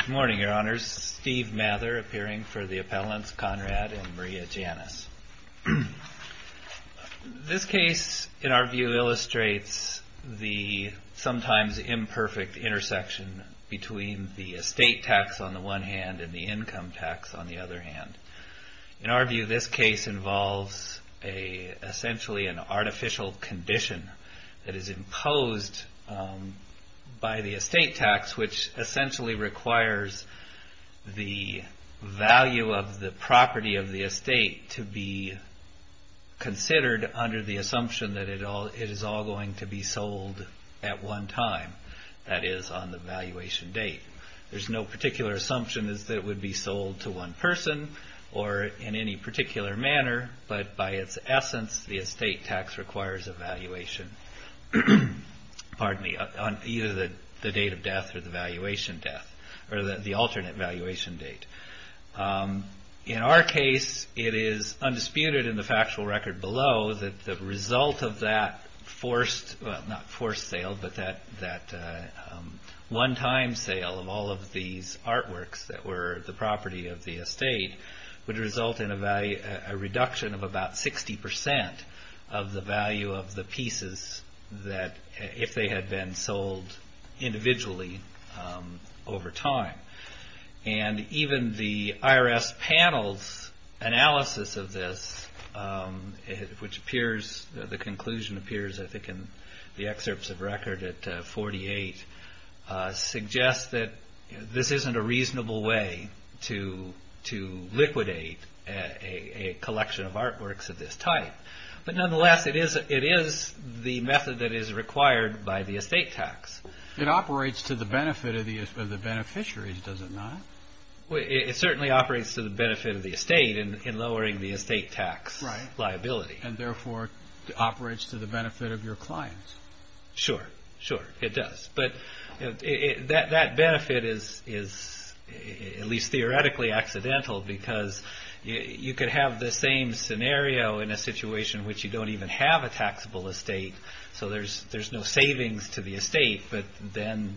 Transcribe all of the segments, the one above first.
Good morning, Your Honors. Steve Mather appearing for the appellants, Conrad and Maria Janis. This case, in our view, illustrates the sometimes imperfect intersection between the estate tax on the one hand and the income tax on the other hand. In our view, this case involves essentially an artificial condition that is imposed by the estate tax, which essentially requires the value of the property of the estate to be considered under the assumption that it is all going to be sold at one time, that is, on the valuation date. There's no particular assumption that it would be sold to one person or in any particular manner, but by its essence, the estate tax requires a valuation on either the date of death or the valuation death, or the alternate valuation date. In our case, it is undisputed in the factual record below that the result of that forced, not forced sale, but that one time sale of all of these artworks that were the property of the estate would result in a reduction of about 60% of the value of the pieces that, if they had been sold individually, would have been sold over time. Even the IRS panel's analysis of this, which appears, the conclusion appears, I think, in the excerpts of record at 48, suggests that this isn't a reasonable way to liquidate a collection of artworks of this type. Nonetheless, it is the method that is required by the estate tax. It operates to the benefit of the beneficiaries, does it not? It certainly operates to the benefit of the estate in lowering the estate tax liability. Right. Therefore, it operates to the benefit of your clients. Sure, sure, it does. That benefit is, at least theoretically, accidental because you could have the same scenario in a situation in which you don't even have a taxable estate, so there's no savings to the estate, but then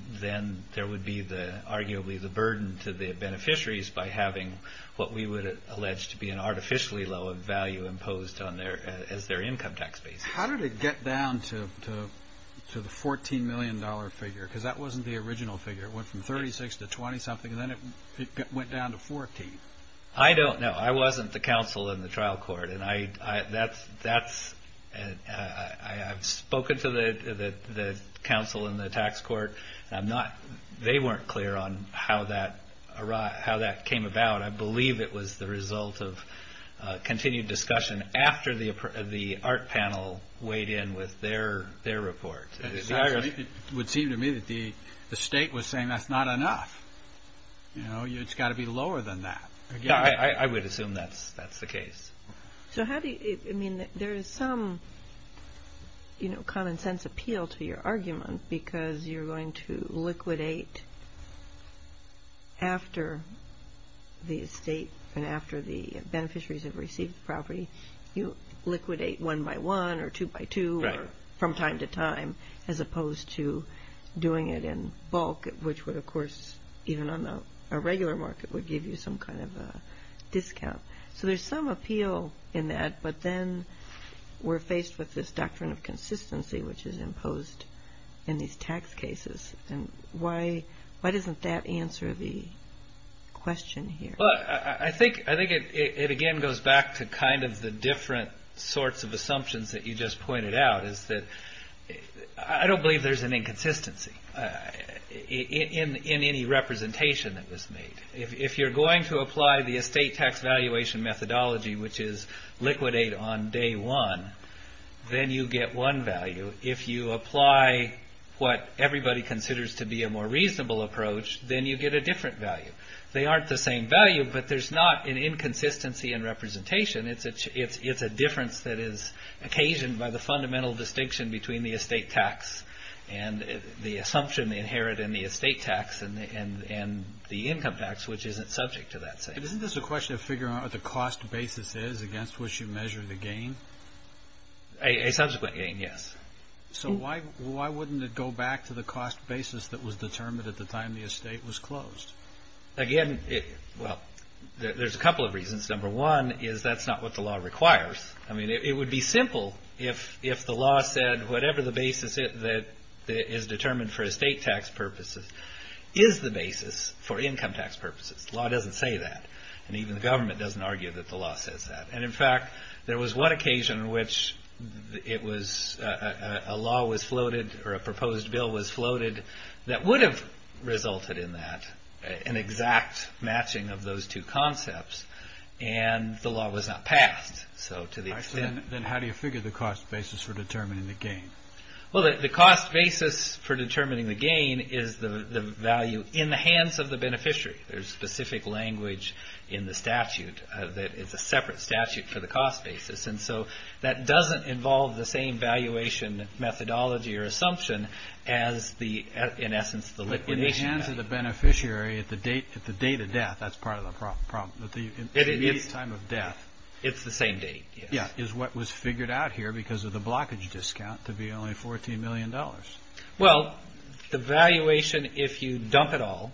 there would be, arguably, the burden to the beneficiaries by having what we would allege to be an artificially low value imposed as their income tax base. How did it get down to the $14 million figure? Because that wasn't the original figure. It went from 36 to 20-something, and then it went down to 14. I don't know. I wasn't the counsel in the trial court. I've spoken to the counsel in the tax court, and they weren't clear on how that came about. I believe it was the result of continued discussion after the art panel weighed in with their report. It would seem to me that the estate was saying, that's not enough. It's got to be lower than that. I would assume that's the case. There is some common sense appeal to your argument because you're going to liquidate after the estate and after the beneficiaries have received the property. You liquidate one by one or two by two or from time to time, as opposed to doing it in bulk, which would, of course, even on a regular market, would give you some kind of a discount. There's some appeal in that, but then we're faced with this doctrine of consistency which is imposed in these tax cases. Why doesn't that answer the question here? I think it again goes back to the different sorts of assumptions that you just pointed out. I don't believe there's an inconsistency in any representation that was made. If you're going to apply the estate tax valuation methodology, which is liquidate on day one, then you get one value. If you apply what everybody considers to be a more reasonable approach, then you get a different value. They aren't the same value, but there's not an inconsistency in between the estate tax and the assumption they inherit in the estate tax and the income tax, which isn't subject to that same thing. Isn't this a question of figuring out what the cost basis is against which you measure the gain? A subsequent gain, yes. Why wouldn't it go back to the cost basis that was determined at the time the estate was closed? There's a couple of reasons. Number one is that's not what the law requires. It would be simple if the law said whatever the basis is determined for estate tax purposes is the basis for income tax purposes. The law doesn't say that, and even the government doesn't argue that the law says that. In fact, there was one occasion in which a law was floated or a proposed bill was floated that would have resulted in that, an exact matching of those two concepts, and the law was not passed. I see. Then how do you figure the cost basis for determining the gain? The cost basis for determining the gain is the value in the hands of the beneficiary. There's specific language in the statute that it's a separate statute for the cost basis. That doesn't involve the same valuation methodology or assumption as, in essence, the liquidation value. In the hands of the beneficiary at the date of death, that's part of the problem. At the immediate time of death. It's the same date, yes. Yes. It's what was figured out here because of the blockage discount to be only $14 million. The valuation, if you dump it all,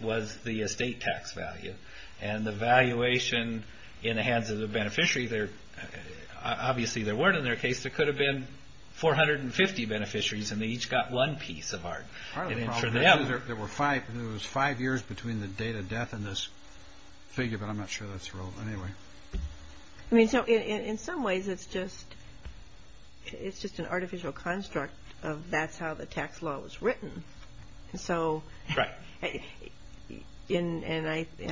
was the estate tax value. The valuation in the hands of the beneficiary, obviously there weren't in their case. There could have been 450 beneficiaries and they each got one piece of art. Part of the problem is there was five years between the date of death and this figure, but I'm not sure that's relevant anyway. In some ways, it's just an artificial construct of that's how the tax law was written. I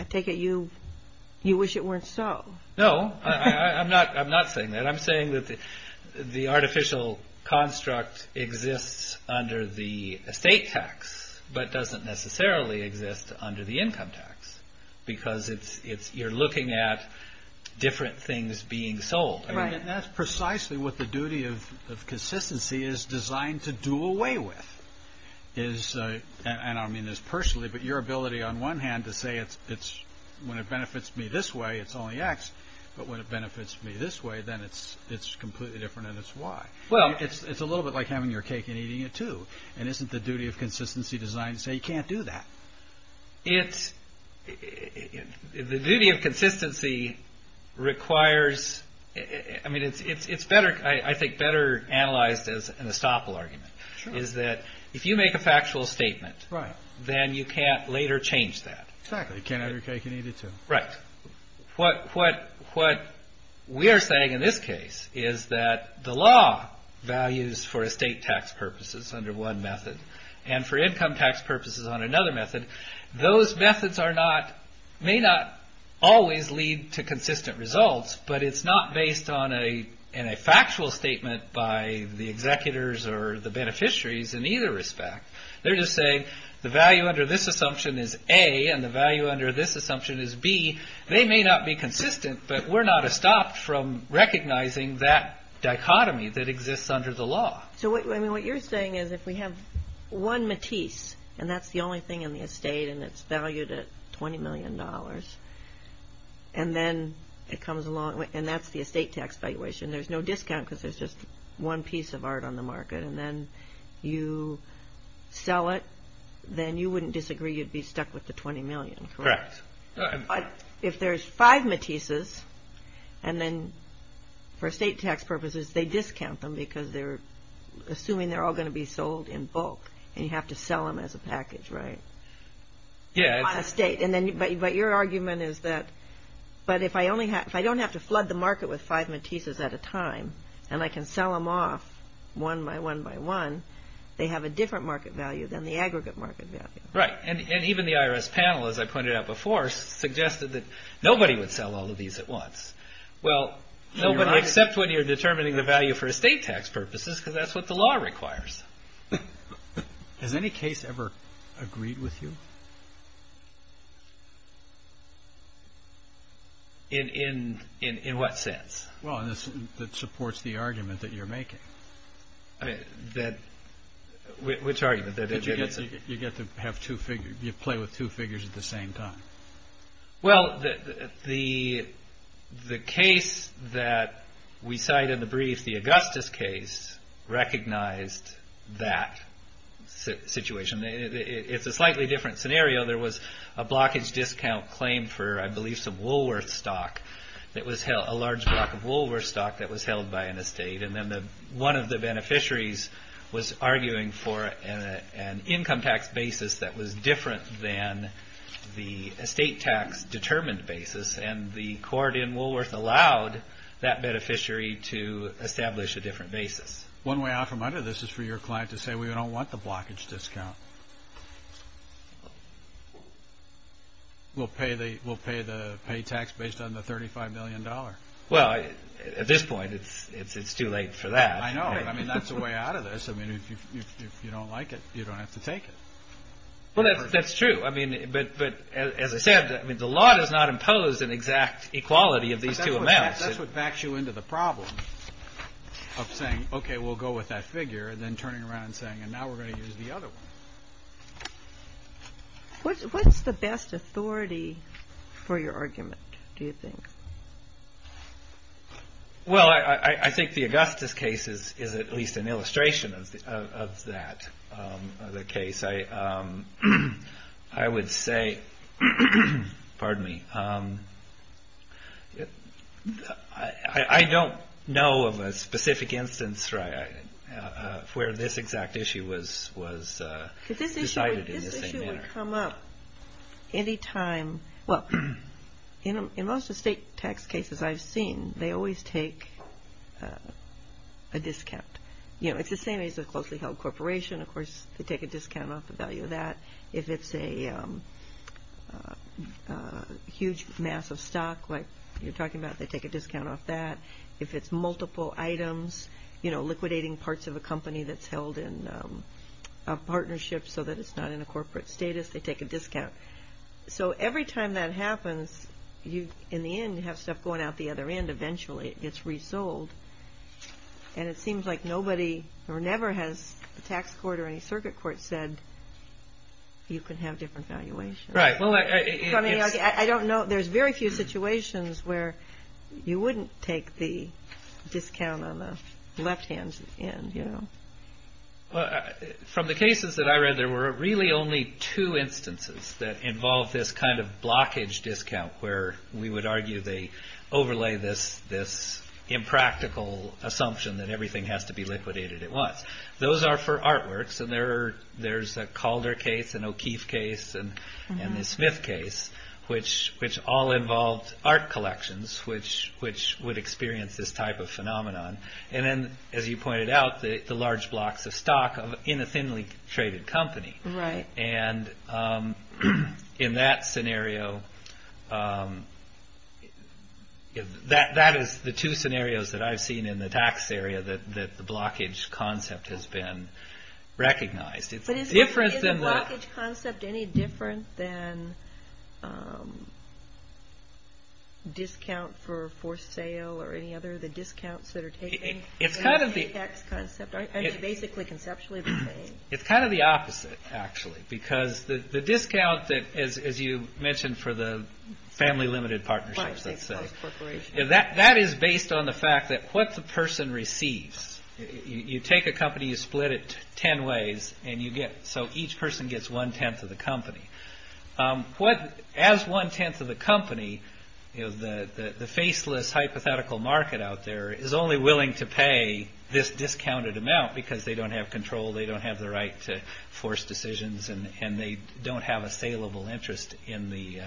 take it you wish it weren't so. No. I'm not saying that. I'm saying that the artificial construct exists under the assumption that you're looking at different things being sold. That's precisely what the duty of consistency is designed to do away with. I don't mean this personally, but your ability on one hand to say when it benefits me this way, it's only X, but when it benefits me this way, then it's completely different and it's Y. It's a little bit like having your cake and eating it too. Isn't the duty of consistency designed to say you can't do that? No. The duty of consistency requires... I think it's better analyzed as an estoppel argument is that if you make a factual statement, then you can't later change that. Exactly. You can't have your cake and eat it too. Right. What we're saying in this case is that the law values for estate tax purposes under one method and for income tax purposes on another method, those methods may not always lead to consistent results, but it's not based on a factual statement by the executors or the beneficiaries in either respect. They're just saying the value under this assumption is A and the value under this assumption is B. They may not be consistent, but we're not estopped from recognizing that dichotomy that exists under the law. What you're saying is if we have one Matisse, and that's the only thing in the estate and it's valued at $20 million, and that's the estate tax valuation, there's no discount because there's just one piece of art on the market. Then you sell it, then you wouldn't disagree. You'd be stuck with the $20 million, correct? Correct. If there's five Matisses, and then for estate tax purposes, they discount them because they're assuming they're all going to be sold in bulk, and you have to sell them as a package, right? On estate. But your argument is that if I don't have to flood the market with five Matisses at a time, and I can sell them off one by one by one, they have a different market value than the aggregate market value. Right. Even the IRS panel, as I pointed out before, suggested that nobody would sell all of these at once. Well, nobody except when you're determining the value for estate tax purposes, because that's what the law requires. Has any case ever agreed with you? In what sense? Well, that supports the argument that you're making. Which argument? You get to have two figures. You play with two figures at the same time. Well, the case that we cite in the brief, the Augustus case, recognized that situation. It's a slightly different scenario. There was a blockage discount claim for, I believe, some Woolworth stock that was held, a large block of Woolworth stock that was held by an estate. And then one of the beneficiaries was arguing for an income tax basis that was different than the estate tax determined basis. And the court in Woolworth allowed that beneficiary to establish a different basis. One way off from either of this is for your client to say, we don't want the blockage discount. We'll pay the pay tax based on the $35 million. Well, at this point, it's too late for that. I know. I mean, that's the way out of this. I mean, if you don't like it, you don't have to take it. Well, that's true. I mean, but as I said, I mean, the law does not impose an exact equality of these two amounts. That's what backs you into the problem of saying, OK, we'll go with that figure and then turning around and saying, and now we're going to use the other one. What's the best authority for your argument, do you think? Well, I think the Augustus case is at least an illustration of that, of the case. I would say, pardon me, I don't know of a specific instance where this exact issue was decided in the same manner. This issue would come up any time. Well, in most estate tax cases I've seen, they always take a discount. You know, it's the same as a closely held corporation. Of course, they take a discount off the value of that. If it's a huge mass of stock, like you're talking about, they take a discount off that. If it's multiple items, you know, liquidating parts of a company that's held in a partnership so that it's not in a corporate status, they take a discount. So every time that happens, in the end, you have stuff going out the other end. Eventually, it gets resold. And it seems like nobody, or never has a tax court or any circuit court said, you can have different valuations. Right. Well, I don't know. There's very few situations where you wouldn't take the discount on the left hand end, you know. From the cases that I read, there were really only two instances that involved this kind of blockage discount where we would argue they overlay this impractical assumption that everything has to be liquidated at once. Those are for artworks. There's a Calder case, an O'Keeffe case, and the Smith case, which all involved art collections, which would experience this type of phenomenon. And then, as you pointed out, the large blocks of stock in a thinly traded company. Right. And in that scenario, that is the two scenarios that I've seen in the tax area that the companies have recognized. But is the blockage concept any different than discount for sale or any other of the discounts that are taken? It's kind of the opposite, actually, because the discount that, as you mentioned for the family limited partnerships, that is based on the fact that what the person receives, you take a company, you split it 10 ways, and you get, so each person gets one tenth of the company. What, as one tenth of the company, the faceless hypothetical market out there is only willing to pay this discounted amount because they don't have control, they don't have the right to force decisions, and they don't have a saleable interest in the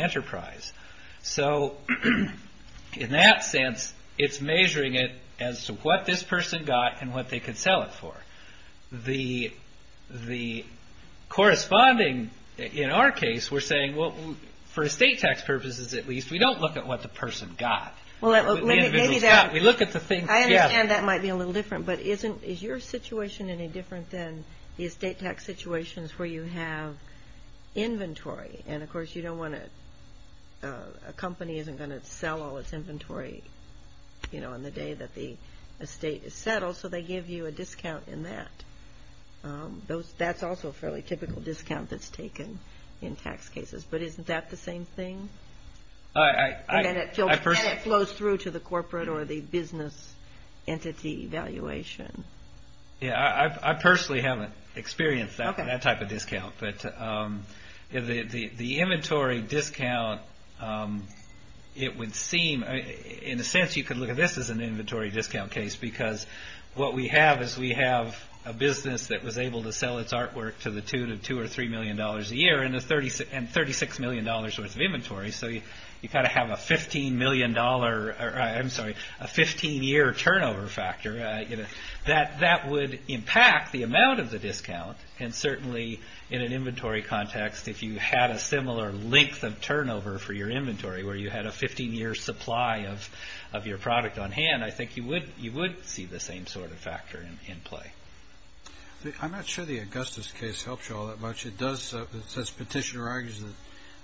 enterprise. So in that sense, it's measuring it as to what this person got and what they could sell it for. The corresponding, in our case, we're saying, well, for estate tax purposes, at least, we don't look at what the person got, we look at the thing. I understand that might be a little different, but is your situation any different than the estate tax situations where you have inventory? And, of course, you don't want to, a company isn't going to sell all its inventory, you know, on the day that the estate is settled, so they give you a discount in that. That's also a fairly typical discount that's taken in tax cases, but isn't that the same thing? And then it flows through to the corporate or the business entity valuation. Yeah, I personally haven't experienced that type of discount. But the inventory discount, it would seem, in a sense, you could look at this as an inventory discount case, because what we have is we have a business that was able to sell its artwork to the tune of $2 or $3 million a year and $36 million worth of inventory. So you've got to have a $15 million, I'm sorry, a 15-year turnover factor. That would impact the amount of the discount, and certainly in an inventory context, if you had a similar length of turnover for your inventory where you had a 15-year supply of your product on hand, I think you would see the same sort of factor in play. I'm not sure the Augustus case helps you all that much. It does, it says, Petitioner argues that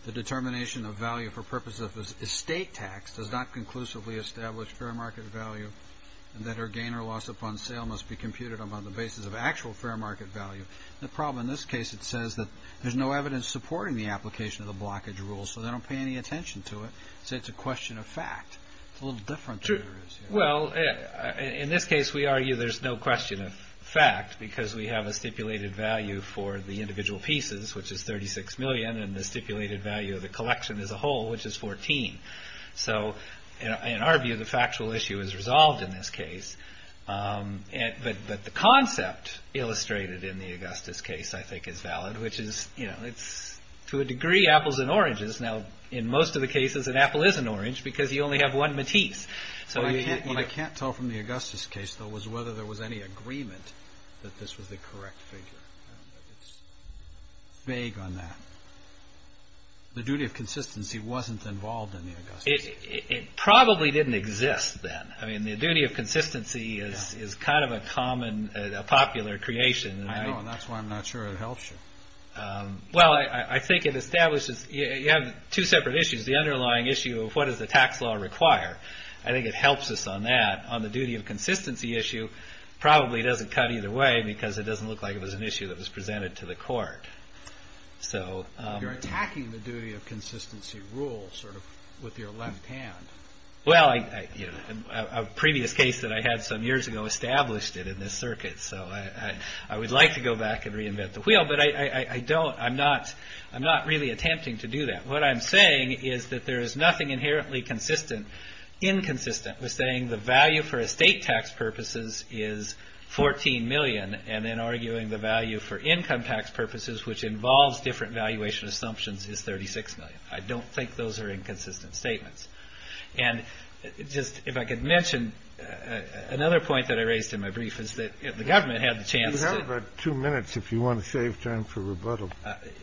the determination of value for purpose of estate tax does not conclusively establish fair market value, and that our gain or loss upon sale must be computed on the basis of actual fair market value. The problem in this case, it says that there's no evidence supporting the application of the blockage rule, so they don't pay any attention to it. So it's a question of fact. It's a little different. Well, in this case, we argue there's no question of fact because we have a stipulated value for the individual pieces, which is $36 million, and the stipulated value of the collection as a whole, which is $14. So in our view, the factual issue is resolved in this case, but the concept illustrated in the Augustus case, I think, is valid, which is, you know, it's to a degree apples and oranges. Now, in most of the cases, an apple is an orange because you only have one Matisse. So what I can't tell from the Augustus case, though, was whether there was any agreement that this was the correct figure. It's vague on that. The duty of consistency wasn't involved in the Augustus case. It probably didn't exist then. I mean, the duty of consistency is kind of a common, a popular creation. I know, and that's why I'm not sure it helps you. Well, I think it establishes, you have two separate issues. The underlying issue of what does the tax law require? I think it helps us on that. On the duty of consistency issue, probably doesn't cut either way because it doesn't look like it was an issue that was presented to the court. So you're attacking the duty of consistency rule sort of with your left hand. Well, you know, a previous case that I had some years ago established it in this circuit. So I would like to go back and reinvent the wheel, but I don't, I'm not, I'm not really attempting to do that. What I'm saying is that there is nothing inherently consistent, inconsistent with saying the value for estate tax purposes is 14 million and then arguing the value for which involves different valuation assumptions is 36 million. I don't think those are inconsistent statements. And just if I could mention another point that I raised in my brief is that if the government had the chance. You have about two minutes if you want to save time for rebuttal.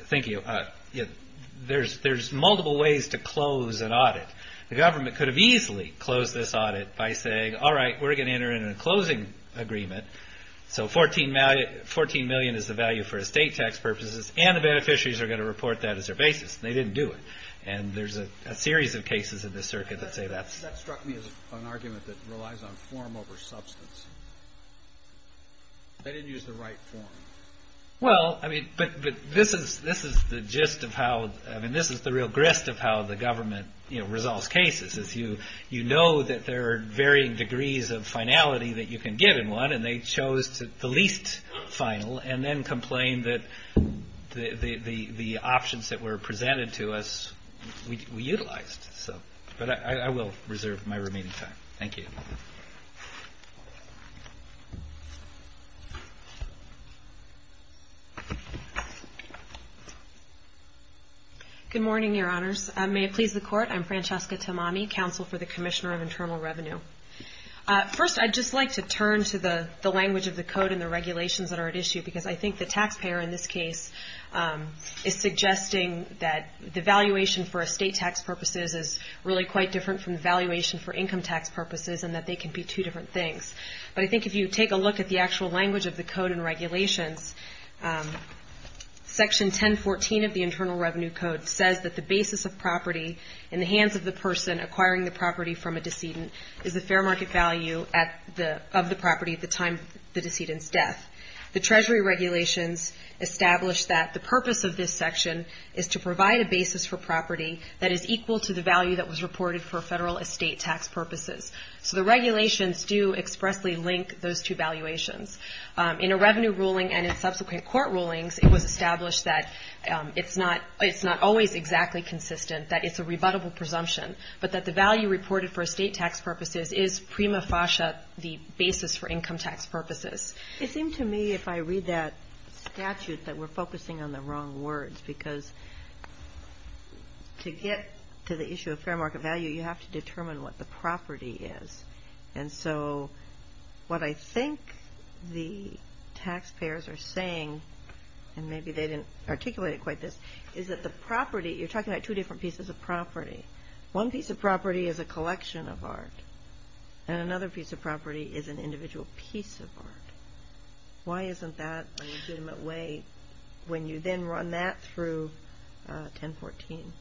Thank you. There's there's multiple ways to close an audit. The government could have easily closed this audit by saying, all right, we're going to enter in a closing agreement. So 14 million is the value for estate tax purposes and the beneficiaries are going to report that as their basis. They didn't do it. And there's a series of cases in this circuit that say that. That struck me as an argument that relies on form over substance. They didn't use the right form. Well, I mean, but this is, this is the gist of how, I mean, this is the real grist of how the government resolves cases is you, you know that there are varying degrees of certainty that you can get in one and they chose the least final and then complained that the options that were presented to us, we utilized. So, but I will reserve my remaining time. Thank you. Good morning, your honors. May it please the court. I'm Francesca Tamami, counsel for the Commissioner of Internal Revenue. First, I'd just like to turn to the language of the code and the regulations that are at issue, because I think the taxpayer in this case is suggesting that the valuation for estate tax purposes is really quite different from the valuation for income tax purposes and that they can be two different things. But I think if you take a look at the actual language of the code and regulations, section 1014 of the Internal Revenue Code says that the basis of property in the hands of the person acquiring the property from a decedent is a fair market value of the property at the time the decedent's death. The Treasury regulations establish that the purpose of this section is to provide a basis for property that is equal to the value that was reported for federal estate tax purposes. So the regulations do expressly link those two valuations. In a revenue ruling and in subsequent court rulings, it was established that it's not always exactly consistent, that it's a rebuttable presumption, but that the value reported for estate tax purposes is prima facie the basis for income tax purposes. It seemed to me if I read that statute that we're focusing on the wrong words, because to get to the issue of fair market value, you have to determine what the property is. And so what I think the taxpayers are saying, and maybe they didn't articulate it this, is that the property, you're talking about two different pieces of property. One piece of property is a collection of art, and another piece of property is an individual piece of art. Why isn't that a legitimate way when you then run that through 1014?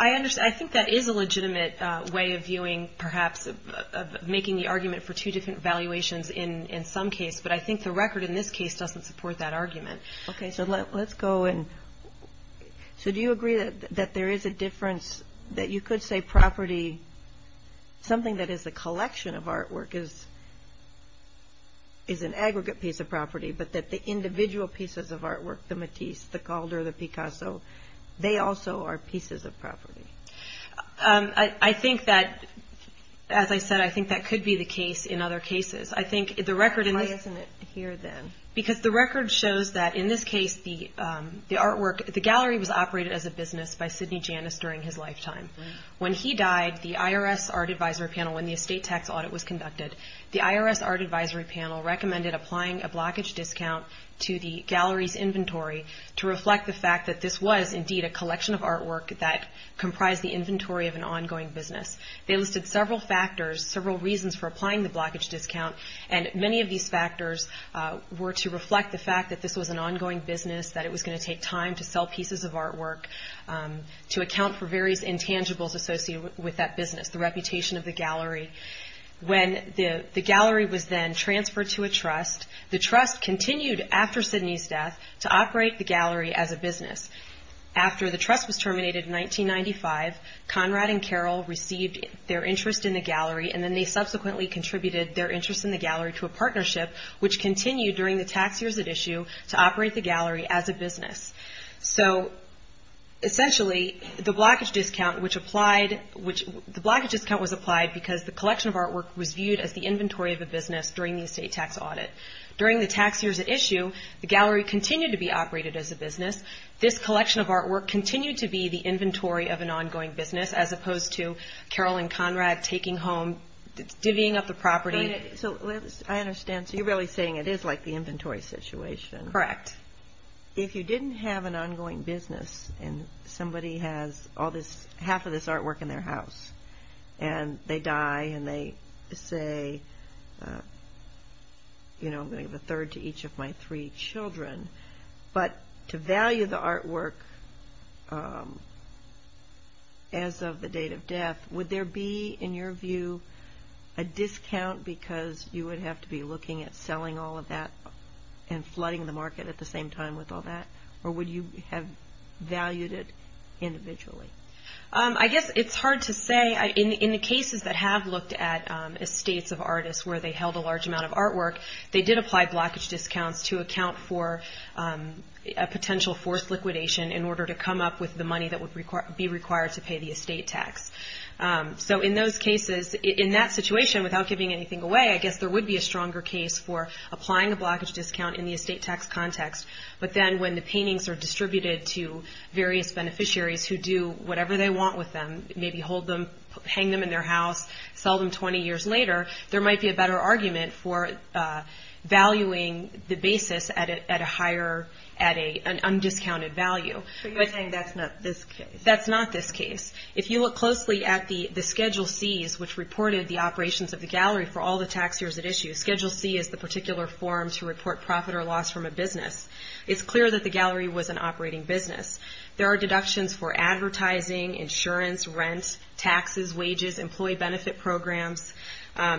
I understand. I think that is a legitimate way of viewing, perhaps, of making the argument for two different valuations in some case, but I think the record in this case doesn't support that argument. OK, so let's go and, so do you agree that there is a difference, that you could say property, something that is a collection of artwork, is an aggregate piece of property, but that the individual pieces of artwork, the Matisse, the Calder, the Picasso, they also are pieces of property? I think that, as I said, I think that could be the case in other cases. Why isn't it here then? Because the record shows that in this case, the artwork, the gallery was operated as a business by Sidney Janis during his lifetime. When he died, the IRS Art Advisory Panel, when the estate tax audit was conducted, the IRS Art Advisory Panel recommended applying a blockage discount to the gallery's inventory to reflect the fact that this was indeed a collection of artwork that comprised the inventory of an ongoing business. They listed several factors, several reasons for applying the blockage discount, and many of these factors were to reflect the fact that this was an ongoing business, that it was going to take time to sell pieces of artwork, to account for various intangibles associated with that business, the reputation of the gallery. When the gallery was then transferred to a trust, the trust continued after Sidney's death to operate the gallery as a business. After the trust was terminated in 1995, Conrad and Carroll received their interest in the gallery, and then they subsequently contributed their interest in the gallery to a partnership, which continued during the tax years at issue to operate the gallery as a business. So essentially, the blockage discount was applied because the collection of artwork was viewed as the inventory of a business during the estate tax audit. During the tax years at issue, the gallery continued to be operated as a business. This collection of artwork continued to be the inventory of an ongoing business, as opposed to Carroll and Conrad taking home, divvying up the property. So I understand. So you're really saying it is like the inventory situation. Correct. If you didn't have an ongoing business and somebody has all this, half of this artwork in their house and they die and they say, you know, I'm going to give a discount. If they value the artwork as of the date of death, would there be, in your view, a discount because you would have to be looking at selling all of that and flooding the market at the same time with all that? Or would you have valued it individually? I guess it's hard to say. In the cases that have looked at estates of artists where they held a large amount of forced liquidation in order to come up with the money that would be required to pay the estate tax. So in those cases, in that situation, without giving anything away, I guess there would be a stronger case for applying a blockage discount in the estate tax context. But then when the paintings are distributed to various beneficiaries who do whatever they want with them, maybe hang them in their house, sell them 20 years later, there would be undiscounted value. So you're saying that's not this case? That's not this case. If you look closely at the Schedule C's, which reported the operations of the gallery for all the tax years at issue, Schedule C is the particular form to report profit or loss from a business. It's clear that the gallery was an operating business. There are deductions for advertising, insurance, rent, taxes, wages, employee benefit programs.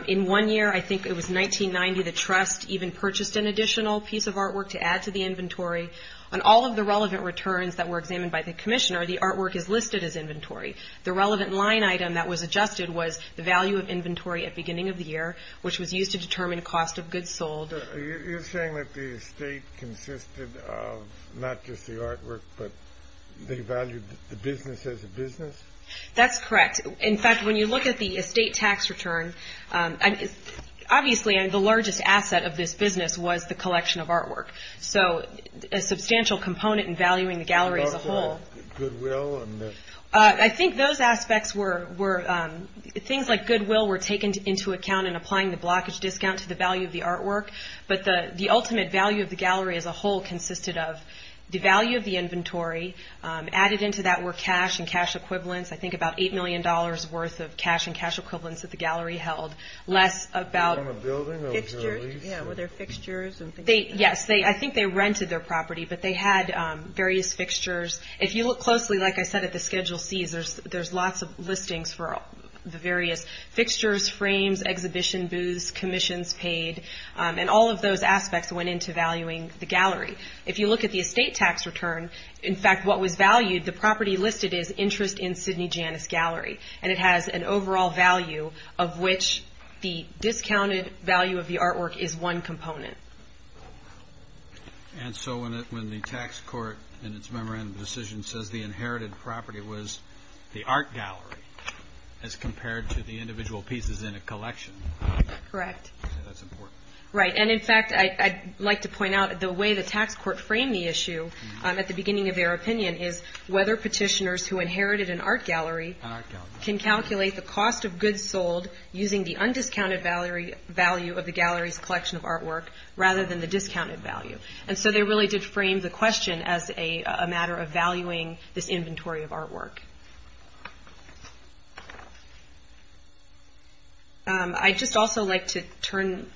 In one year, I think it was 1990, the Trust even purchased an additional piece of artwork to add to the inventory. On all of the relevant returns that were examined by the commissioner, the artwork is listed as inventory. The relevant line item that was adjusted was the value of inventory at beginning of the year, which was used to determine cost of goods sold. You're saying that the estate consisted of not just the artwork, but they valued the business as a business? That's correct. In fact, when you look at the estate tax return, obviously the largest asset of this business was the collection of artwork. So a substantial component in valuing the gallery as a whole. I think those aspects were things like goodwill were taken into account in applying the blockage discount to the value of the artwork. But the ultimate value of the gallery as a whole consisted of the value of the inventory added into that were cash and cash equivalents. I think about eight million dollars worth of cash and cash equivalents that the gallery held. Less about fixtures, were there fixtures? Yes, I think they rented their property, but they had various fixtures. If you look closely, like I said, at the Schedule C's, there's lots of listings for the various fixtures, frames, exhibition booths, commissions paid, and all of those aspects went into valuing the gallery. If you look at the estate tax return, in fact, what was valued, the property listed is interest in Sidney Janis Gallery, and it has an overall value of which the discounted value of the artwork is one component. And so when the tax court in its memorandum decision says the inherited property was the art gallery as compared to the individual pieces in a collection. Correct. That's important. Right. And in fact, I'd like to point out the way the tax court framed the issue at the time. It said the property inherited an art gallery can calculate the cost of goods sold using the undiscounted value of the gallery's collection of artwork rather than the discounted value. And so they really did frame the question as a matter of valuing this inventory of artwork. I'd just also like to turn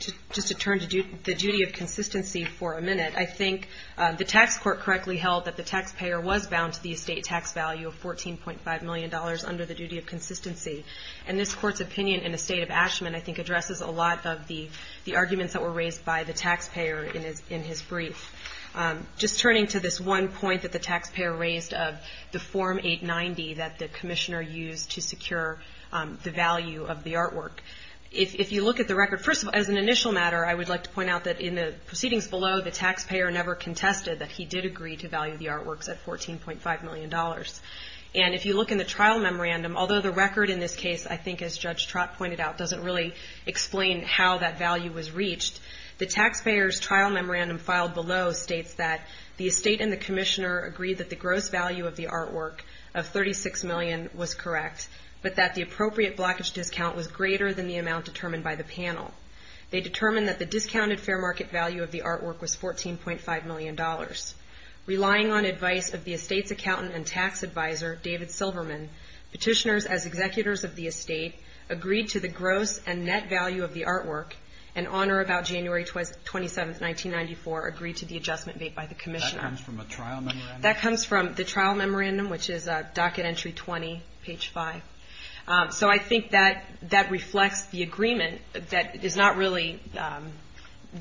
to just to turn to the duty of consistency for a minute. I think the tax court correctly held that the taxpayer was bound to the estate tax value of fourteen point five million dollars under the duty of consistency. And this court's opinion in the state of Ashman, I think, addresses a lot of the the arguments that were raised by the taxpayer in his in his brief. Just turning to this one point that the taxpayer raised of the Form 890 that the commissioner used to secure the value of the artwork. If you look at the record, first of all, as an initial matter, I would like to point out that in the proceedings below, the taxpayer never contested that he did agree to value the artwork of thirty six million dollars. And if you look in the trial memorandum, although the record in this case, I think, as Judge Trott pointed out, doesn't really explain how that value was reached. The taxpayer's trial memorandum filed below states that the estate and the commissioner agreed that the gross value of the artwork of thirty six million was correct, but that the appropriate blockage discount was greater than the amount determined by the panel. They determined that the discounted fair market value of the artwork was fourteen point five million dollars. Relying on advice of the estate's accountant and tax advisor, David Silverman, petitioners as executors of the estate agreed to the gross and net value of the artwork and on or about January 27th, 1994, agreed to the adjustment made by the commissioner. That comes from a trial memorandum? That comes from the trial memorandum, which is a docket entry 20, page five. So I think that that reflects the agreement that is not really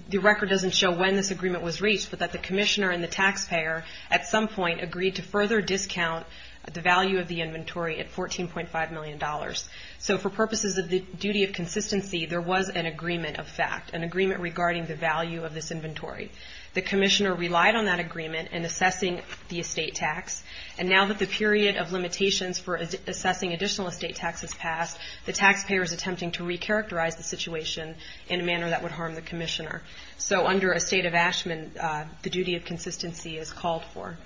the record doesn't show when this agreement was reached, but that the commissioner and the taxpayer at some point agreed to further discount the value of the inventory at fourteen point five million dollars. So for purposes of the duty of consistency, there was an agreement of fact, an agreement regarding the value of this inventory. The commissioner relied on that agreement and assessing the estate tax. And now that the period of limitations for assessing additional estate taxes passed, the taxpayer is attempting to recharacterize the situation in a manner that would harm the under a state of Ashman, the duty of consistency is called for.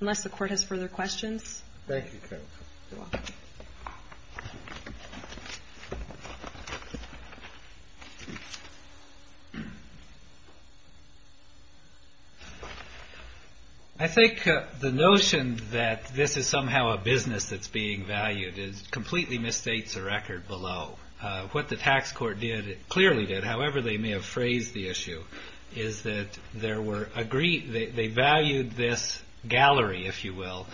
Unless the court has further questions. Thank you. I think the notion that this is somehow a business that's being valued is completely misstates a record below what the tax court did. Clearly did. However, they may have phrased the issue is that there were agreed that they valued this gallery, if you will,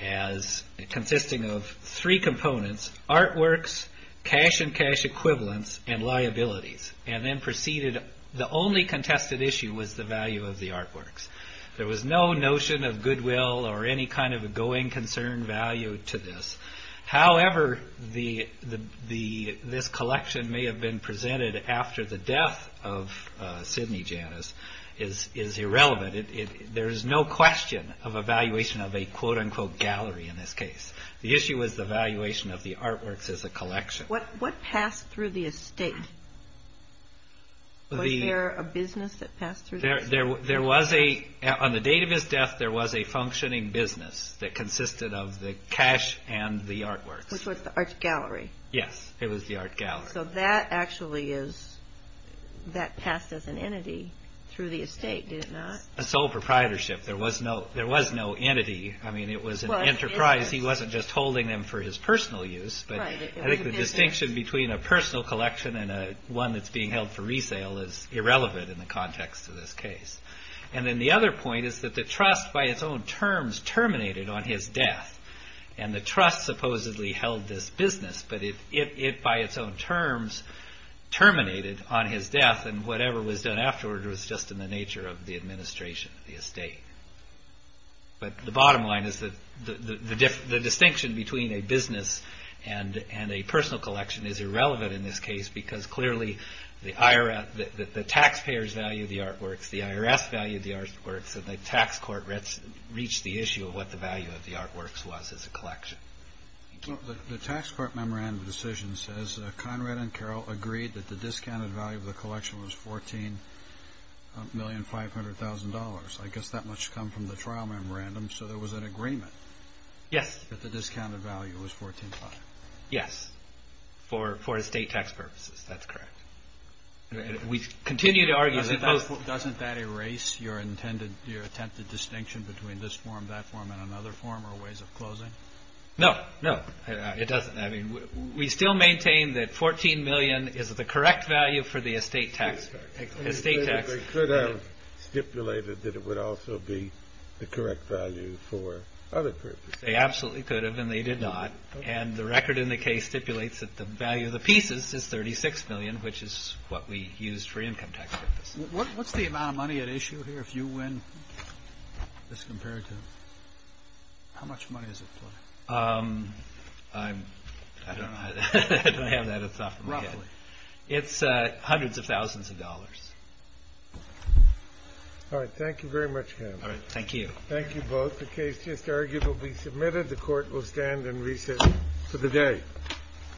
as consisting of three components, artworks, cash and cash equivalents and liabilities, and then proceeded. The only contested issue was the value of the artworks. There was no notion of goodwill or any kind of a going concern value to this. However, this collection may have been presented after the death of Sidney Janis is irrelevant. There is no question of evaluation of a quote unquote gallery in this case. The issue is the valuation of the artworks as a collection. What passed through the estate? Was there a business that passed through? There was a, on the date of his death, there was a functioning business that consisted of the cash and the artworks, which was the art gallery. Yes, it was the art gallery. So that actually is that passed as an entity through the estate, did it not? A sole proprietorship. There was no, there was no entity. I mean, it was an enterprise. He wasn't just holding them for his personal use, but I think the distinction between a personal collection and one that's being held for resale is irrelevant in the context of this case. And then the other point is that the trust by its own terms terminated on his death and the trust supposedly held this business, but it by its own terms terminated on his death and whatever was done afterward was just in the nature of the administration of the estate. But the bottom line is that the distinction between a business and a personal collection is irrelevant in this case because clearly the IRS, the taxpayers value the artworks, the IRS valued the artworks and the tax court reached the issue of what the artworks was as a collection. The tax court memorandum decision says Conrad and Carol agreed that the discounted value of the collection was $14,500,000. I guess that much come from the trial memorandum. So there was an agreement. Yes. That the discounted value was $14,500,000. Yes. For estate tax purposes. That's correct. We continue to argue. Doesn't that erase your intended, your attempted distinction between this form, that form and another form or ways of closing? No, no, it doesn't. I mean, we still maintain that $14,000,000 is the correct value for the estate tax. They could have stipulated that it would also be the correct value for other purposes. They absolutely could have and they did not. And the record in the case stipulates that the value of the pieces is $36,000,000, which is what we used for income tax purposes. What's the amount of money at issue here if you win this compared to? How much money is it? Um, I'm, I don't know, I don't have that at the top of my head. It's hundreds of thousands of dollars. All right. Thank you very much. Thank you. Thank you both. The case just argued will be submitted. The court will stand and recess for the day.